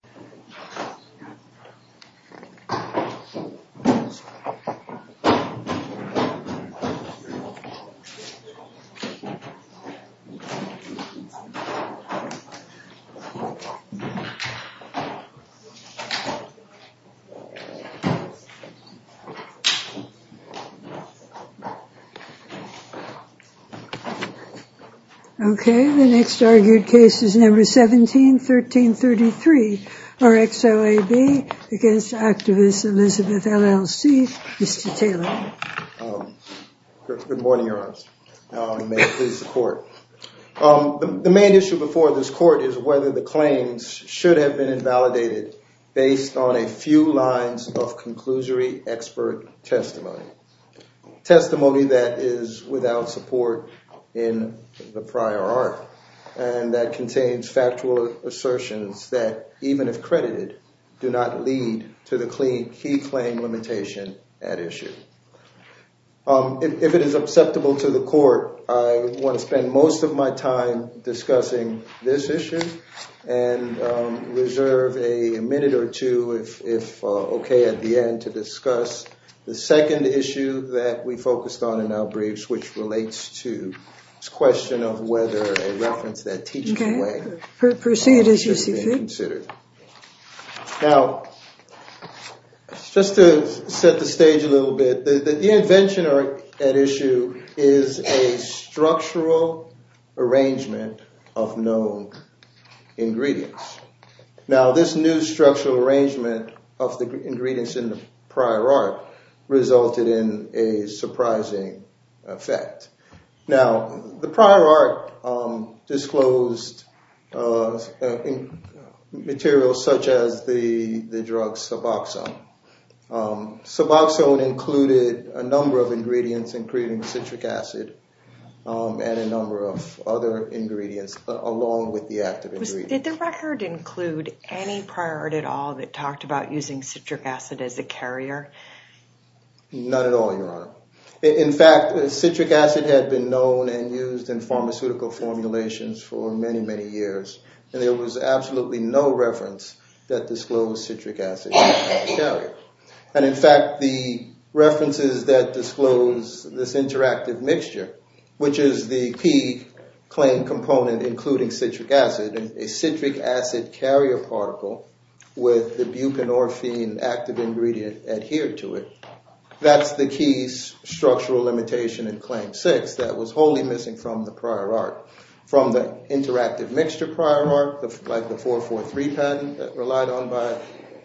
Elizabeth Willams-Clinton OK, the next argued case is number 17, 1333. RxOAB against activist Elizabeth LLC. Mr. Taylor. Good morning, Your Honors, and may it please the court. The main issue before this court is whether the claims should have been invalidated based on a few lines of conclusory expert testimony. Testimony that is without support in the prior art and that contains factual assertions that, even if credited, do not lead to the key claim limitation at issue. If it is acceptable to the court, I want to spend most of my time discussing this issue and reserve a minute or two, if OK, at the end to discuss the second issue that we focused on in our briefs, which relates to this question of whether a reference that teaches the way should have been considered. Now, just to set the stage a little bit, the invention at issue is a structural arrangement of known ingredients. Now, this new structural arrangement of the ingredients in the prior art resulted in a surprising effect. Now, the prior art disclosed materials such as the drug Suboxone. Suboxone included a number of ingredients, including citric acid and a number of other ingredients, along with the active ingredient. Did the record include any prior art at all that talked about using citric acid as a carrier? Not at all, Your Honor. In fact, citric acid had been known and used in pharmaceutical formulations for many, many years, and there was absolutely no reference that disclosed citric acid as a carrier. And in fact, the references that disclose this interactive mixture, which is the key claim component, including citric acid, and a citric acid carrier particle with the buprenorphine active ingredient adhered to it, that's the key structural limitation in Claim 6 that was wholly missing from the prior art, from the interactive mixture prior art, like the 443 patent that relied on by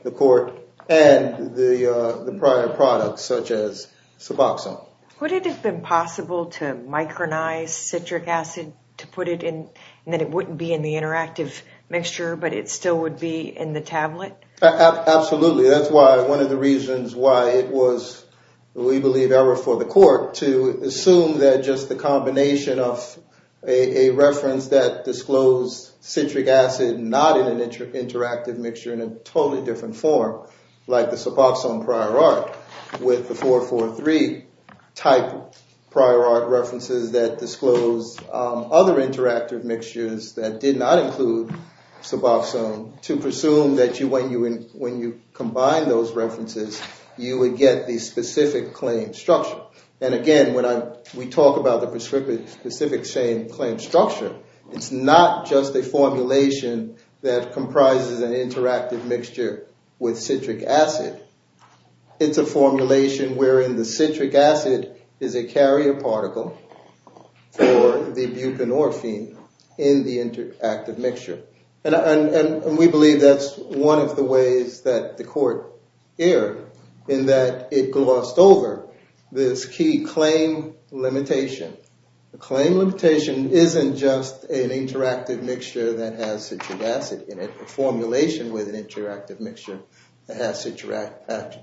the court and the prior products such as Suboxone. Would it have been possible to micronize citric acid to put it in and that it wouldn't be in the interactive mixture, but it still would be in the tablet? Absolutely. That's why one of the reasons why it was, we believe, error for the court to assume that just the combination of a reference that disclosed citric acid not in an interactive mixture in a totally different form, like the Suboxone prior art with the 443 type prior art references that disclosed other interactive mixtures that did not include Suboxone to presume that when you combine those references, you would get the specific claim structure. And again, when we talk about the specific same claim structure, it's not just a formulation that comprises an interactive mixture with citric acid. It's a formulation wherein the citric acid is a carrier particle for the buprenorphine in the interactive mixture. And we believe that's one of the ways that the court erred in that it glossed over this key claim limitation. The claim limitation isn't just an interactive mixture that has citric acid in it, a formulation with an interactive mixture that has citric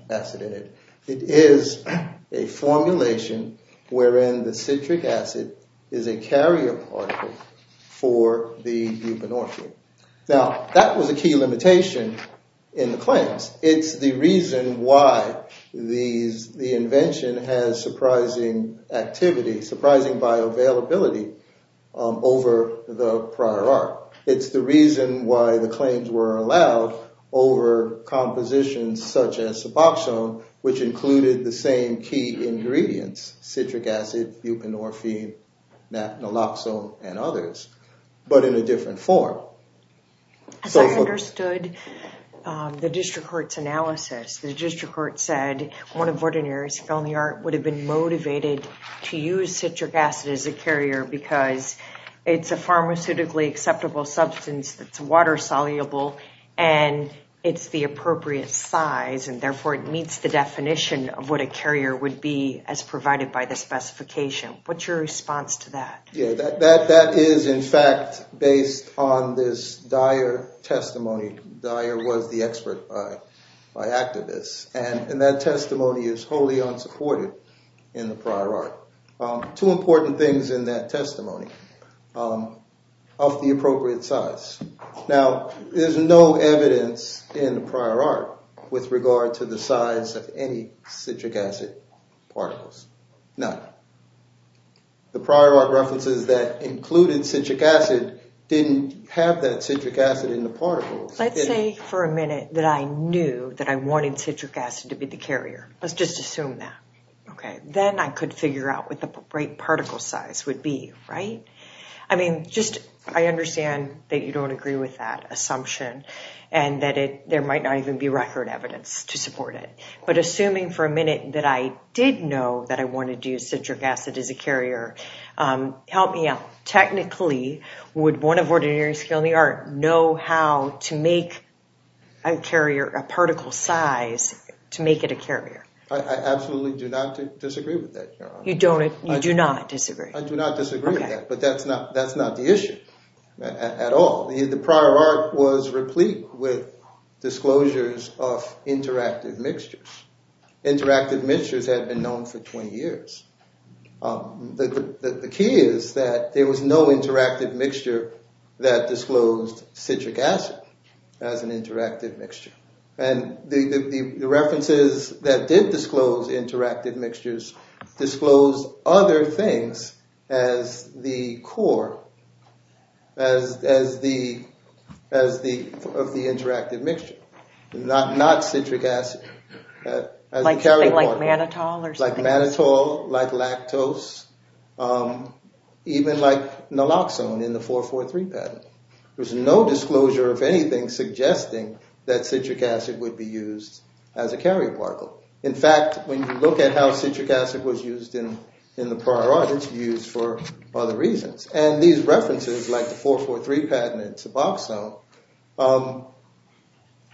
acid in it. It is a formulation wherein the citric acid is a carrier particle for the buprenorphine. Now, that was a key limitation in the claims. It's the reason why the invention has surprising activity, surprising bioavailability over the prior art. It's the reason why the claims were allowed over compositions such as Suboxone, which included the same key ingredients, citric acid, buprenorphine, naloxone and others, but in a different form. As I understood the district court's analysis, the district court said one of Vordener's felony art would have been motivated to use citric acid as a carrier because it's a pharmaceutically acceptable substance that's water soluble and it's the appropriate size. And therefore, it meets the definition of what a carrier would be as provided by the specification. What's your response to that? Yeah, that is, in fact, based on this Dyer testimony. Dyer was the expert by activists and that testimony is wholly unsupported in the prior art. Two important things in that testimony of the appropriate size. Now, there's no evidence in the prior art with regard to the size of any citric acid particles. No. The prior art references that included citric acid didn't have that citric acid in the particles. Let's say for a minute that I knew that I wanted citric acid to be the carrier. Let's just assume that. OK, then I could figure out what the right particle size would be, right? I mean, just I understand that you don't agree with that assumption and that there might not even be record evidence to support it. But assuming for a minute that I did know that I wanted to use citric acid as a carrier. Help me out. Technically, would one of ordinary skill in the art know how to make a carrier a particle size to make it a carrier? I absolutely do not disagree with that. You don't. You do not disagree. I do not disagree. But that's not that's not the issue at all. The prior art was replete with disclosures of interactive mixtures. Interactive mixtures had been known for 20 years. The key is that there was no interactive mixture that disclosed citric acid as an interactive mixture. And the references that did disclose interactive mixtures disclosed other things as the core. As as the as the of the interactive mixture, not not citric acid, like mannitol or like mannitol, like lactose, even like naloxone in the 443 patent. There's no disclosure of anything suggesting that citric acid would be used as a carrier particle. In fact, when you look at how citric acid was used in in the prior art, it's used for other reasons. And these references, like the 443 patent and suboxone,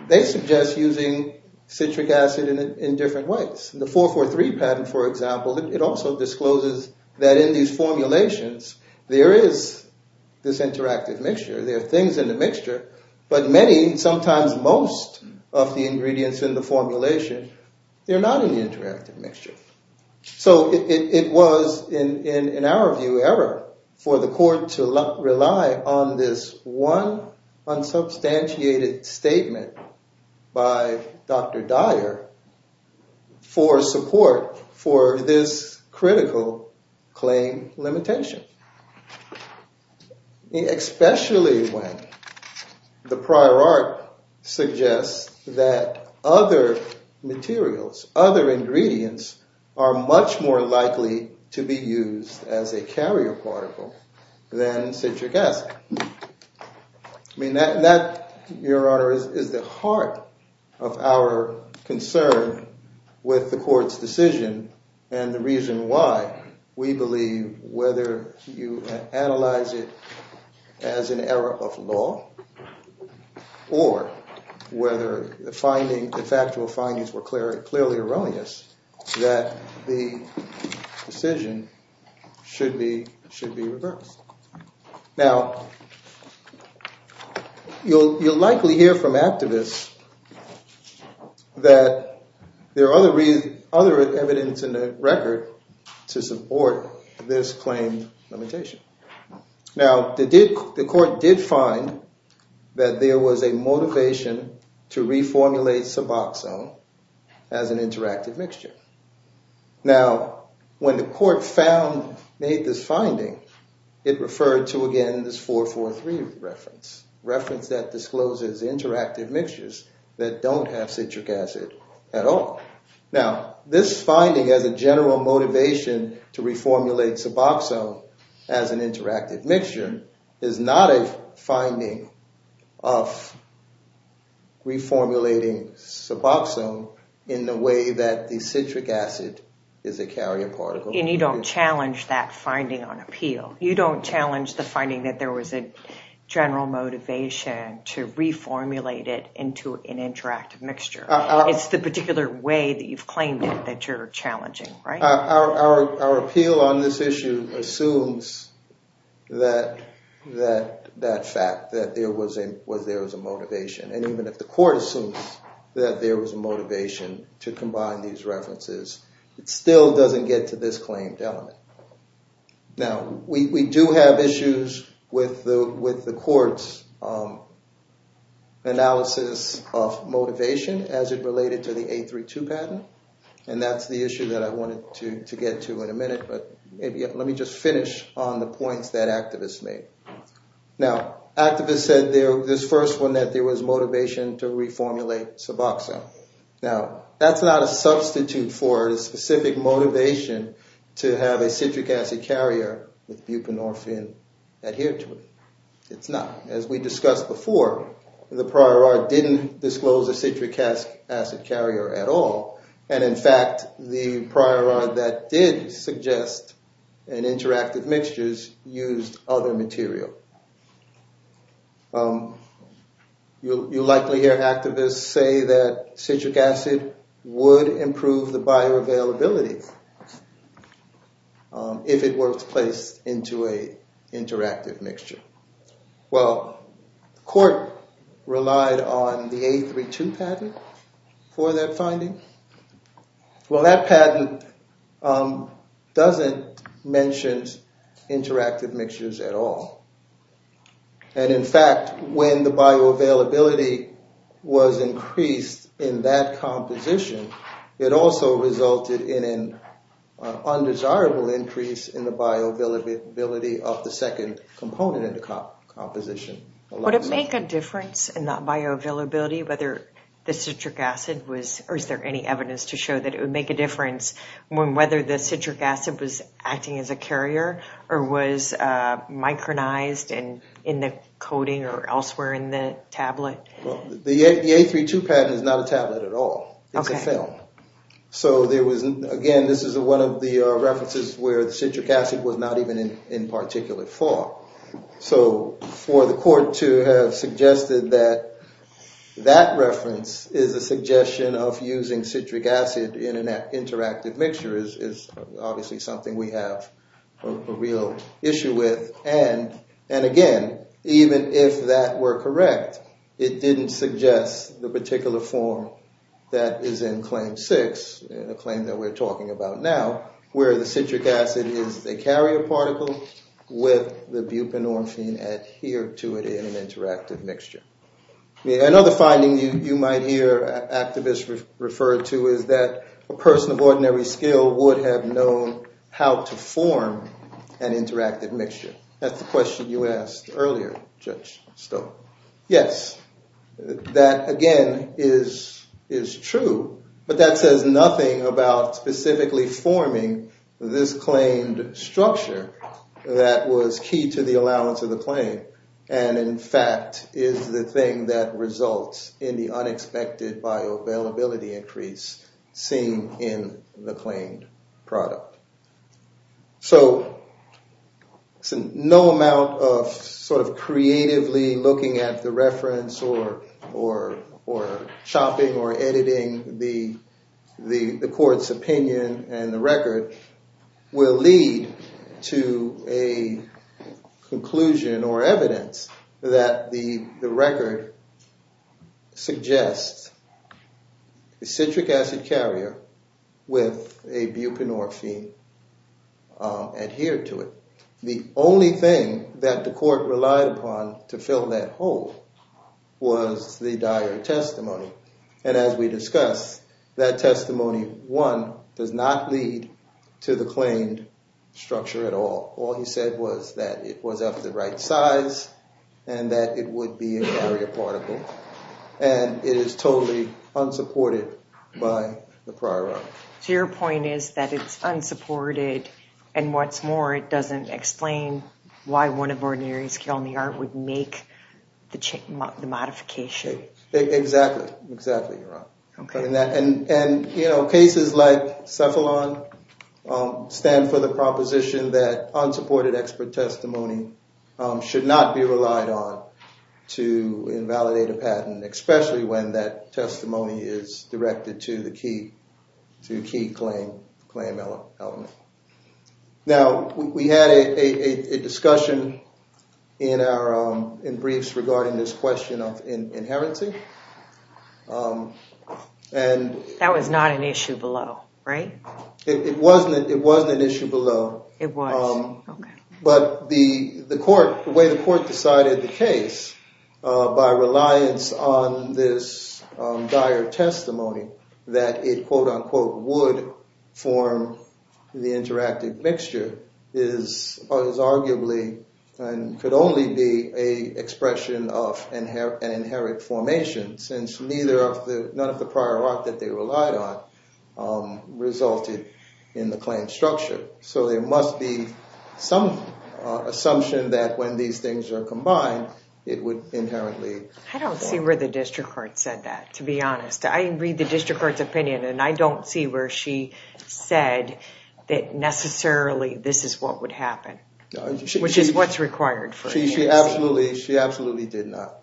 they suggest using citric acid in different ways. The 443 patent, for example, it also discloses that in these formulations there is this interactive mixture. There are things in the mixture, but many, sometimes most of the ingredients in the formulation, they're not in the interactive mixture. So it was, in our view, error for the court to rely on this one unsubstantiated statement by Dr. Dyer for support for this critical claim limitation. Especially when the prior art suggests that other materials, other ingredients are much more likely to be used as a carrier particle than citric acid. I mean, that, Your Honor, is the heart of our concern with the court's decision and the reason why we believe whether you analyze it as an error of law or whether the finding, the factual findings were clearly erroneous, that the decision should be reversed. Now, you'll likely hear from activists that there are other evidence in the record to support this claim limitation. Now, the court did find that there was a motivation to reformulate suboxone as an interactive mixture. Now, when the court found, made this finding, it referred to, again, this 4-4-3 reference. Reference that discloses interactive mixtures that don't have citric acid at all. Now, this finding as a general motivation to reformulate suboxone as an interactive mixture is not a finding of reformulating suboxone in the way that the citric acid is a carrier particle. And you don't challenge that finding on appeal. You don't challenge the finding that there was a general motivation to reformulate it into an interactive mixture. It's the particular way that you've claimed it that you're challenging, right? Our appeal on this issue assumes that fact, that there was a motivation. And even if the court assumes that there was a motivation to combine these references, it still doesn't get to this claimed element. Now, we do have issues with the court's analysis of motivation as it related to the 8-3-2 patent. And that's the issue that I wanted to get to in a minute, but let me just finish on the points that activists made. Now, activists said this first one, that there was motivation to reformulate suboxone. Now, that's not a substitute for a specific motivation to have a citric acid carrier with buprenorphine adhered to it. It's not. As we discussed before, the prior art didn't disclose a citric acid carrier at all. And in fact, the prior art that did suggest an interactive mixtures used other material. You'll likely hear activists say that citric acid would improve the bioavailability if it was placed into an interactive mixture. Well, the court relied on the 8-3-2 patent for that finding. Well, that patent doesn't mention interactive mixtures at all. And in fact, when the bioavailability was increased in that composition, it also resulted in an undesirable increase in the bioavailability of the second component in the composition. Would it make a difference in that bioavailability whether the citric acid was, or is there any evidence to show that it would make a difference when whether the citric acid was acting as a carrier or was micronized in the coating or elsewhere in the tablet? The 8-3-2 patent is not a tablet at all. It's a film. So there was, again, this is one of the references where the citric acid was not even in particular thought. So for the court to have suggested that that reference is a suggestion of using citric acid in an interactive mixture is obviously something we have a real issue with. And again, even if that were correct, it didn't suggest the particular form that is in Claim 6, the claim that we're talking about now, where the citric acid is a carrier particle with the buprenorphine adhered to it in an interactive mixture. Another finding you might hear activists refer to is that a person of ordinary skill would have known how to form an interactive mixture. That's the question you asked earlier, Judge Stowe. Yes, that, again, is true, but that says nothing about specifically forming this claimed structure that was key to the allowance of the claim and, in fact, is the thing that results in the unexpected bioavailability increase seen in the claimed product. So no amount of sort of creatively looking at the reference or chopping or editing the court's opinion and the record will lead to a conclusion or evidence that the record suggests a citric acid carrier with a buprenorphine. The only thing that the court relied upon to fill that hole was the diary testimony. And as we discussed, that testimony, one, does not lead to the claimed structure at all. All he said was that it was of the right size and that it would be a carrier particle, and it is totally unsupported by the prior argument. So your point is that it's unsupported, and what's more, it doesn't explain why one of ordinary skill in the art would make the modification. Exactly, exactly, you're right. And cases like Cephalon stand for the proposition that unsupported expert testimony should not be relied on to invalidate a patent, especially when that testimony is directed to the key claim element. Now, we had a discussion in briefs regarding this question of inherency. That was not an issue below, right? It wasn't an issue below. It was. But the way the court decided the case, by reliance on this diary testimony, that it, quote unquote, would form the interactive mixture, is arguably and could only be an expression of an inherent formation, since none of the prior art that they relied on resulted in the claim structure. So there must be some assumption that when these things are combined, it would inherently form. I don't see where the district court said that, to be honest. I read the district court's opinion, and I don't see where she said that necessarily this is what would happen, which is what's required for inheritance. She absolutely did not.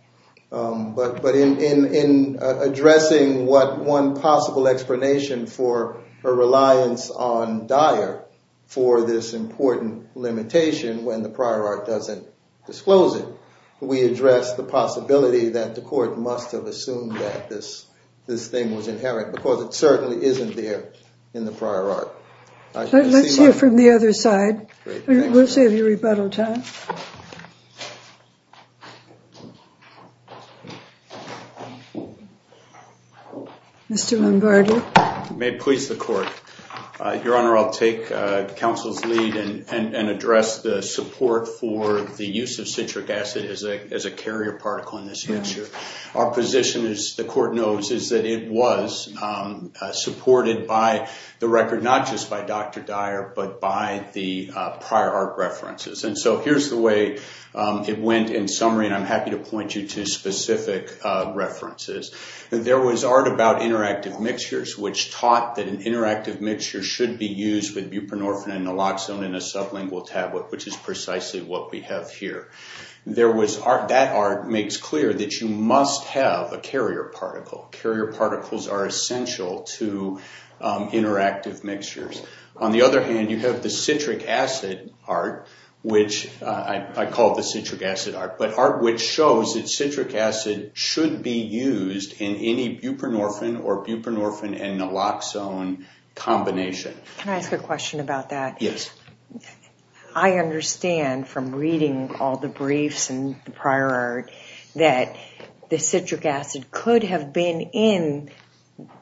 But in addressing what one possible explanation for her reliance on Dyer for this important limitation when the prior art doesn't disclose it, we address the possibility that the court must have assumed that this thing was inherent, because it certainly isn't there in the prior art. Let's hear from the other side. We'll save you rebuttal time. Mr. Lombardi. May it please the court. Your Honor, I'll take counsel's lead and address the support for the use of citric acid as a carrier particle in this mixture. Our position, as the court knows, is that it was supported by the record, not just by Dr. Dyer, but by the prior art references. And so here's the way it went in summary, and I'm happy to point you to specific references. There was art about interactive mixtures, which taught that an interactive mixture should be used with buprenorphine and naloxone in a sublingual tablet, which is precisely what we have here. That art makes clear that you must have a carrier particle. Carrier particles are essential to interactive mixtures. On the other hand, you have the citric acid art, which I call the citric acid art, but art which shows that citric acid should be used in any buprenorphine or buprenorphine and naloxone combination. Can I ask a question about that? Yes. I understand from reading all the briefs and the prior art that the citric acid could have been in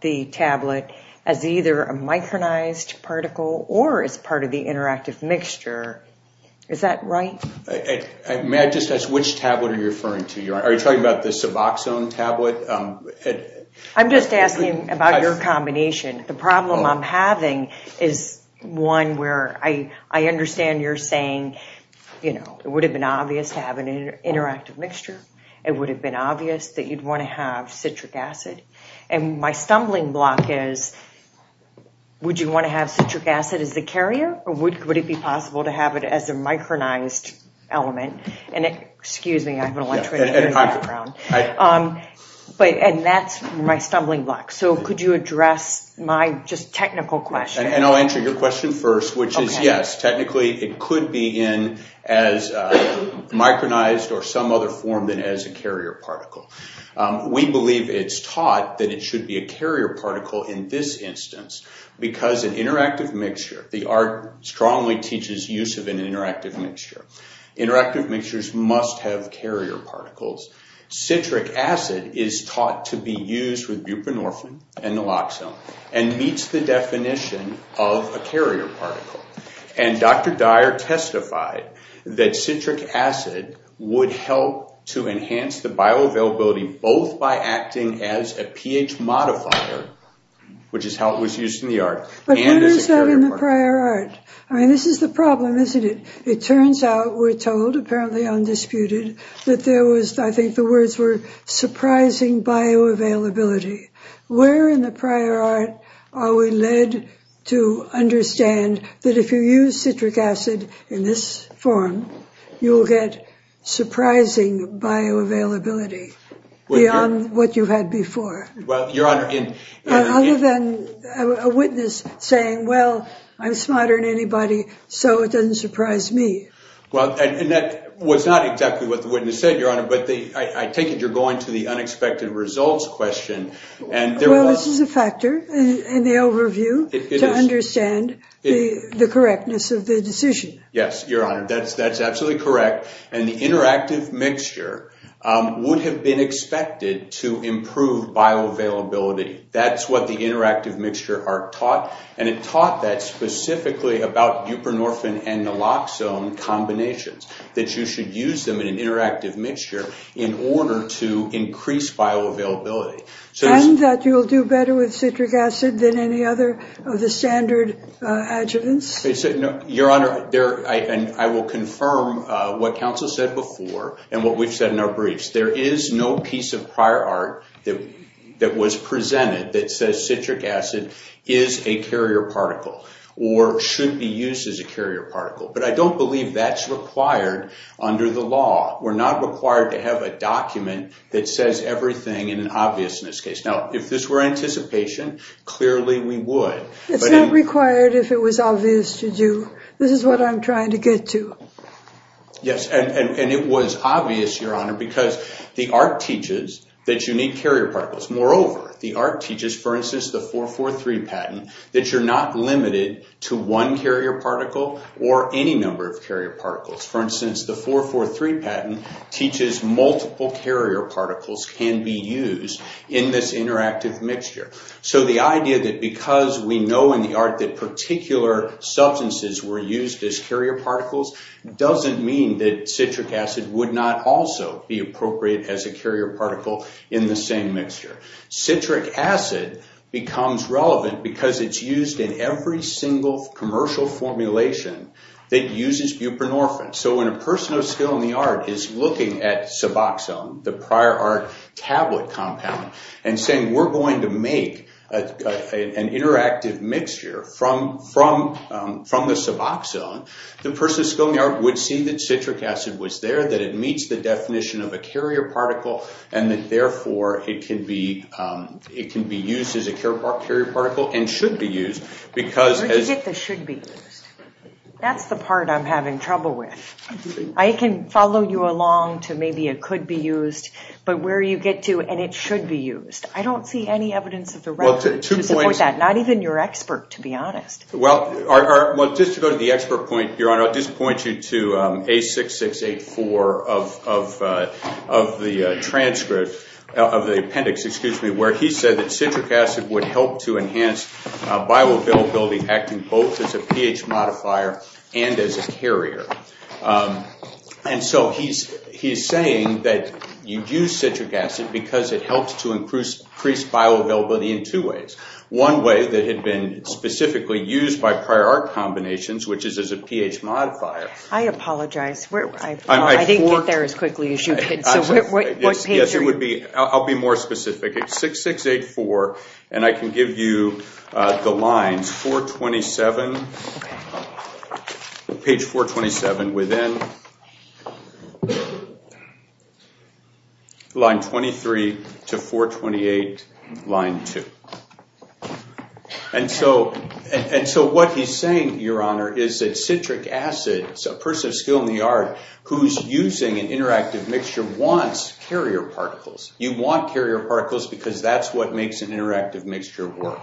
the tablet as either a micronized particle or as part of the interactive mixture. Is that right? May I just ask which tablet are you referring to? Are you talking about the suboxone tablet? I'm just asking about your combination. The problem I'm having is one where I understand you're saying it would have been obvious to have an interactive mixture. It would have been obvious that you'd want to have citric acid. My stumbling block is would you want to have citric acid as the carrier, or would it be possible to have it as a micronized element? Excuse me. I have an electronic background. That's my stumbling block. Could you address my technical question? I'll answer your question first, which is yes. Technically, it could be in as micronized or some other form than as a carrier particle. We believe it's taught that it should be a carrier particle in this instance because an interactive mixture, the art strongly teaches use of an interactive mixture. Interactive mixtures must have carrier particles. Citric acid is taught to be used with buprenorphine and naloxone and meets the definition of a carrier particle. And Dr. Dyer testified that citric acid would help to enhance the bioavailability both by acting as a pH modifier, which is how it was used in the art, and as a carrier particle. But what is that in the prior art? I mean, this is the problem, isn't it? It turns out, we're told, apparently undisputed, that there was, I think the words were, surprising bioavailability. Where in the prior art are we led to understand that if you use citric acid in this form, you will get surprising bioavailability beyond what you had before? Other than a witness saying, well, I'm smarter than anybody, so it doesn't surprise me. Well, and that was not exactly what the witness said, Your Honor, but I take it you're going to the unexpected results question. Well, this is a factor in the overview to understand the correctness of the decision. Yes, Your Honor, that's absolutely correct. And the interactive mixture would have been expected to improve bioavailability. That's what the interactive mixture art taught, and it taught that specifically about buprenorphine and naloxone combinations, that you should use them in an interactive mixture in order to increase bioavailability. And that you'll do better with citric acid than any other of the standard adjuvants? Your Honor, I will confirm what counsel said before and what we've said in our briefs. There is no piece of prior art that was presented that says citric acid is a carrier particle or should be used as a carrier particle. But I don't believe that's required under the law. We're not required to have a document that says everything in an obviousness case. Now, if this were anticipation, clearly we would. It's not required if it was obvious to do. This is what I'm trying to get to. Yes, and it was obvious, Your Honor, because the art teaches that you need carrier particles. Moreover, the art teaches, for instance, the 4-4-3 patent, that you're not limited to one carrier particle or any number of carrier particles. For instance, the 4-4-3 patent teaches multiple carrier particles can be used in this interactive mixture. So the idea that because we know in the art that particular substances were used as carrier particles doesn't mean that citric acid would not also be appropriate as a carrier particle in the same mixture. Citric acid becomes relevant because it's used in every single commercial formulation that uses buprenorphine. So when a person of skill in the art is looking at suboxone, the prior art tablet compound, and saying we're going to make an interactive mixture from the suboxone, the person of skill in the art would see that citric acid was there, that it meets the definition of a carrier particle, and that therefore it can be used as a carrier particle and should be used. Where do you get the should be used? That's the part I'm having trouble with. I can follow you along to maybe it could be used, but where you get to, and it should be used. I don't see any evidence of the relevant to support that, not even your expert, to be honest. Well, just to go to the expert point, Your Honor, I'll just point you to A6684 of the transcript, of the appendix, excuse me, where he said that citric acid would help to enhance bioavailability acting both as a pH modifier and as a carrier. And so he's saying that you use citric acid because it helps to increase bioavailability in two ways. One way that had been specifically used by prior art combinations, which is as a pH modifier. I apologize. I didn't get there as quickly as you did. Yes, it would be. I'll be more specific. It's 6684, and I can give you the lines, 427, page 427, within line 23 to 428, line two. And so what he's saying, Your Honor, is that citric acid, a person of skill in the art, who's using an interactive mixture, wants carrier particles. You want carrier particles because that's what makes an interactive mixture work.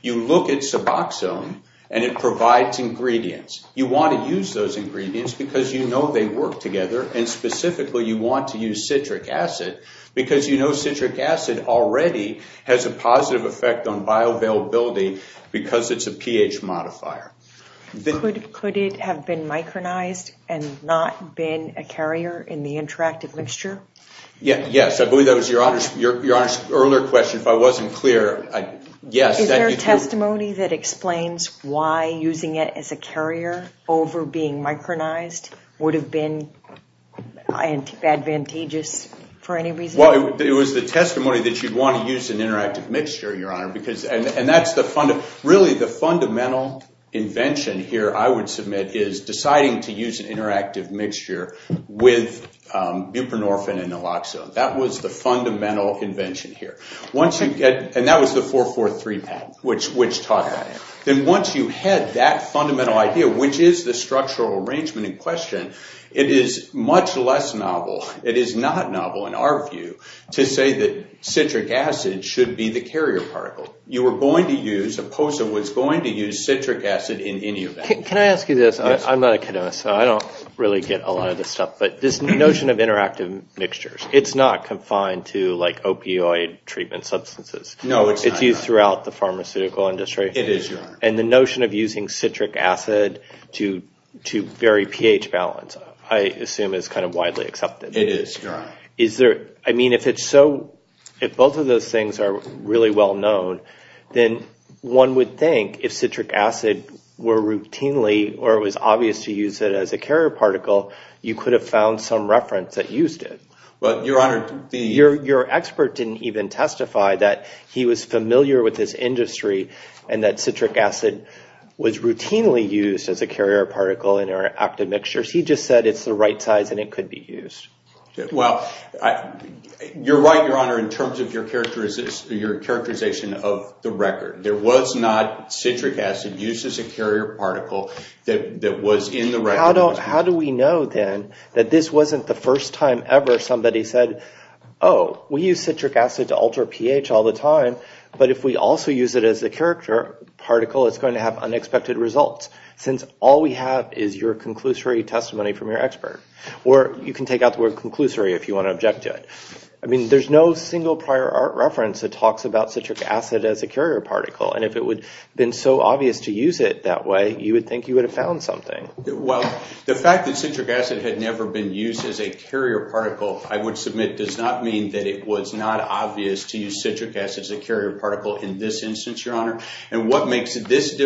You look at suboxone, and it provides ingredients. You want to use those ingredients because you know they work together, and specifically you want to use citric acid because you know citric acid already has a positive effect on bioavailability because it's a pH modifier. Could it have been micronized and not been a carrier in the interactive mixture? Yes, I believe that was Your Honor's earlier question. If I wasn't clear, yes. Is there a testimony that explains why using it as a carrier over being micronized would have been advantageous for any reason? Well, it was the testimony that you'd want to use an interactive mixture, Your Honor, and really the fundamental invention here, I would submit, is deciding to use an interactive mixture with buprenorphine and naloxone. That was the fundamental invention here, and that was the 443 patent, which taught that. Then once you had that fundamental idea, which is the structural arrangement in question, it is much less novel, it is not novel in our view, to say that citric acid should be the carrier particle. You were going to use, Opposa was going to use citric acid in any of that. Can I ask you this? I'm not a chemist, so I don't really get a lot of this stuff, but this notion of interactive mixtures, it's not confined to opioid treatment substances. No, it's not, Your Honor. It's used throughout the pharmaceutical industry. It is, Your Honor. And the notion of using citric acid to vary pH balance, I assume, is kind of widely accepted. It is, Your Honor. Is there, I mean, if it's so, if both of those things are really well known, then one would think if citric acid were routinely, or it was obvious to use it as a carrier particle, you could have found some reference that used it. Well, Your Honor, the- Your expert didn't even testify that he was familiar with this industry and that citric acid was routinely used as a carrier particle in our active mixtures. He just said it's the right size and it could be used. Well, you're right, Your Honor, in terms of your characterization of the record. There was not citric acid used as a carrier particle that was in the record. How do we know, then, that this wasn't the first time ever somebody said, oh, we use citric acid to alter pH all the time, but if we also use it as a carrier particle, it's going to have unexpected results, since all we have is your conclusory testimony from your expert. Or you can take out the word conclusory if you want to object to it. I mean, there's no single prior art reference that talks about citric acid as a carrier particle, and if it would have been so obvious to use it that way, you would think you would have found something. Well, the fact that citric acid had never been used as a carrier particle, I would submit, does not mean that it was not obvious to use citric acid as a carrier particle in this instance, Your Honor. And what makes this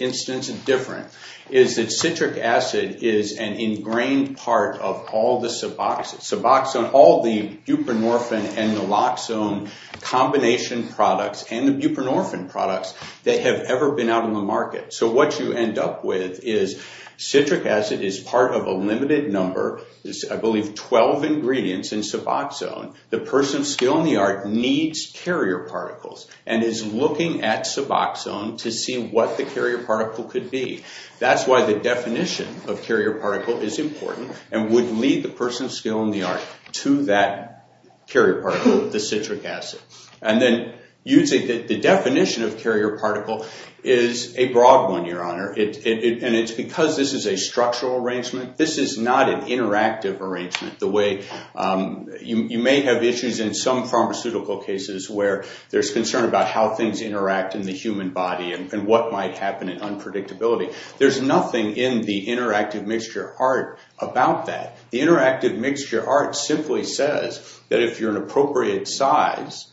instance different is that citric acid is an ingrained part of all the suboxone, all the buprenorphine and naloxone combination products and the buprenorphine products that have ever been out on the market. So what you end up with is citric acid is part of a limited number, I believe 12 ingredients in suboxone. The person of skill and the art needs carrier particles and is looking at suboxone to see what the carrier particle could be. That's why the definition of carrier particle is important and would lead the person of skill and the art to that carrier particle, the citric acid. The definition of carrier particle is a broad one, Your Honor, and it's because this is a structural arrangement. This is not an interactive arrangement. You may have issues in some pharmaceutical cases where there's concern about how things interact in the human body and what might happen in unpredictability. There's nothing in the interactive mixture art about that. The interactive mixture art simply says that if you're an appropriate size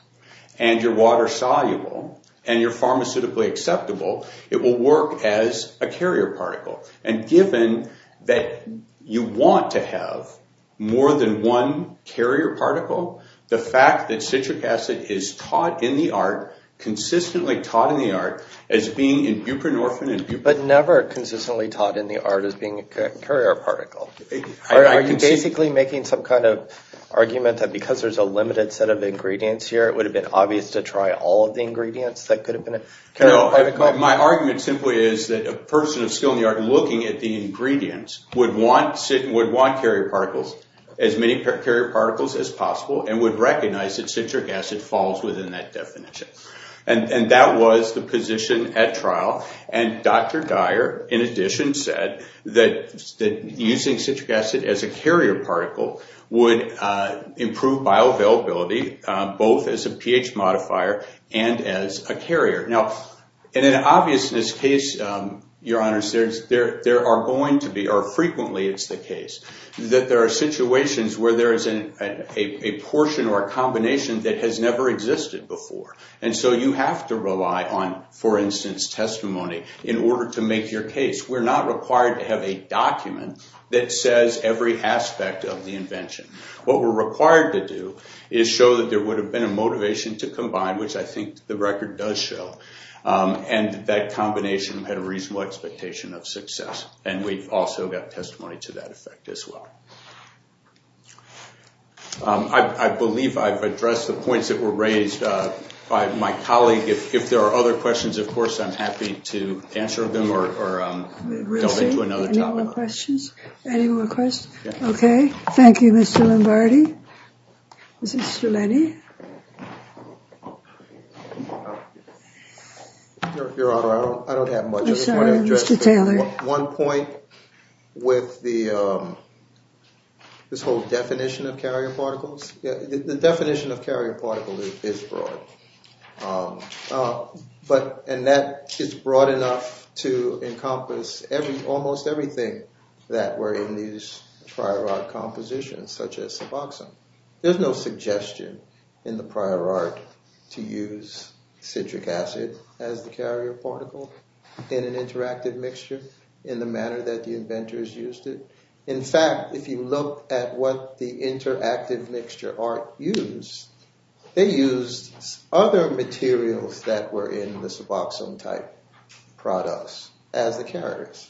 and you're water soluble and you're pharmaceutically acceptable, it will work as a carrier particle. And given that you want to have more than one carrier particle, the fact that citric acid is taught in the art, consistently taught in the art, as being in buprenorphine and buprenorphine. But never consistently taught in the art as being a carrier particle. Are you basically making some kind of argument that because there's a limited set of ingredients here, it would have been obvious to try all of the ingredients that could have been a carrier particle? No, my argument simply is that a person of skill in the art looking at the ingredients would want carrier particles, as many carrier particles as possible, and would recognize that citric acid falls within that definition. And that was the position at trial. And Dr. Dyer, in addition, said that using citric acid as a carrier particle would improve bioavailability, both as a pH modifier and as a carrier. Now, in an obviousness case, Your Honors, there are going to be, or frequently it's the case, that there are situations where there is a portion or a combination that has never existed before. And so you have to rely on, for instance, testimony in order to make your case. We're not required to have a document that says every aspect of the invention. What we're required to do is show that there would have been a motivation to combine, which I think the record does show. And that combination had a reasonable expectation of success. And we've also got testimony to that effect as well. I believe I've addressed the points that were raised by my colleague. If there are other questions, of course, I'm happy to answer them or delve into another topic. Any more questions? Any more questions? Okay. Thank you, Mr. Lombardi. Mr. Lenny. Your Honor, I don't have much. I'm sorry, Mr. Taylor. One point with this whole definition of carrier particles. The definition of carrier particle is broad. And that is broad enough to encompass almost everything that were in these prior art compositions, such as suboxone. There's no suggestion in the prior art to use citric acid as the carrier particle in an interactive mixture, in the manner that the inventors used it. In fact, if you look at what the interactive mixture art used, they used other materials that were in the suboxone-type products as the carriers,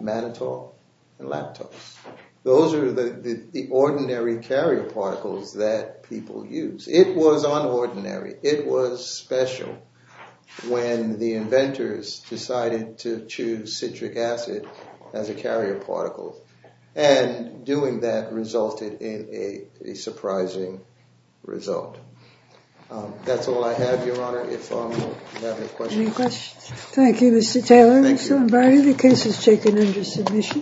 mannitol and lactose. Those are the ordinary carrier particles that people use. It was unordinary. It was special when the inventors decided to choose citric acid as a carrier particle. And doing that resulted in a surprising result. That's all I have, Your Honor. If you have any questions. Any questions? Thank you, Mr. Taylor. Mr. Lombardi, the case is taken under submission.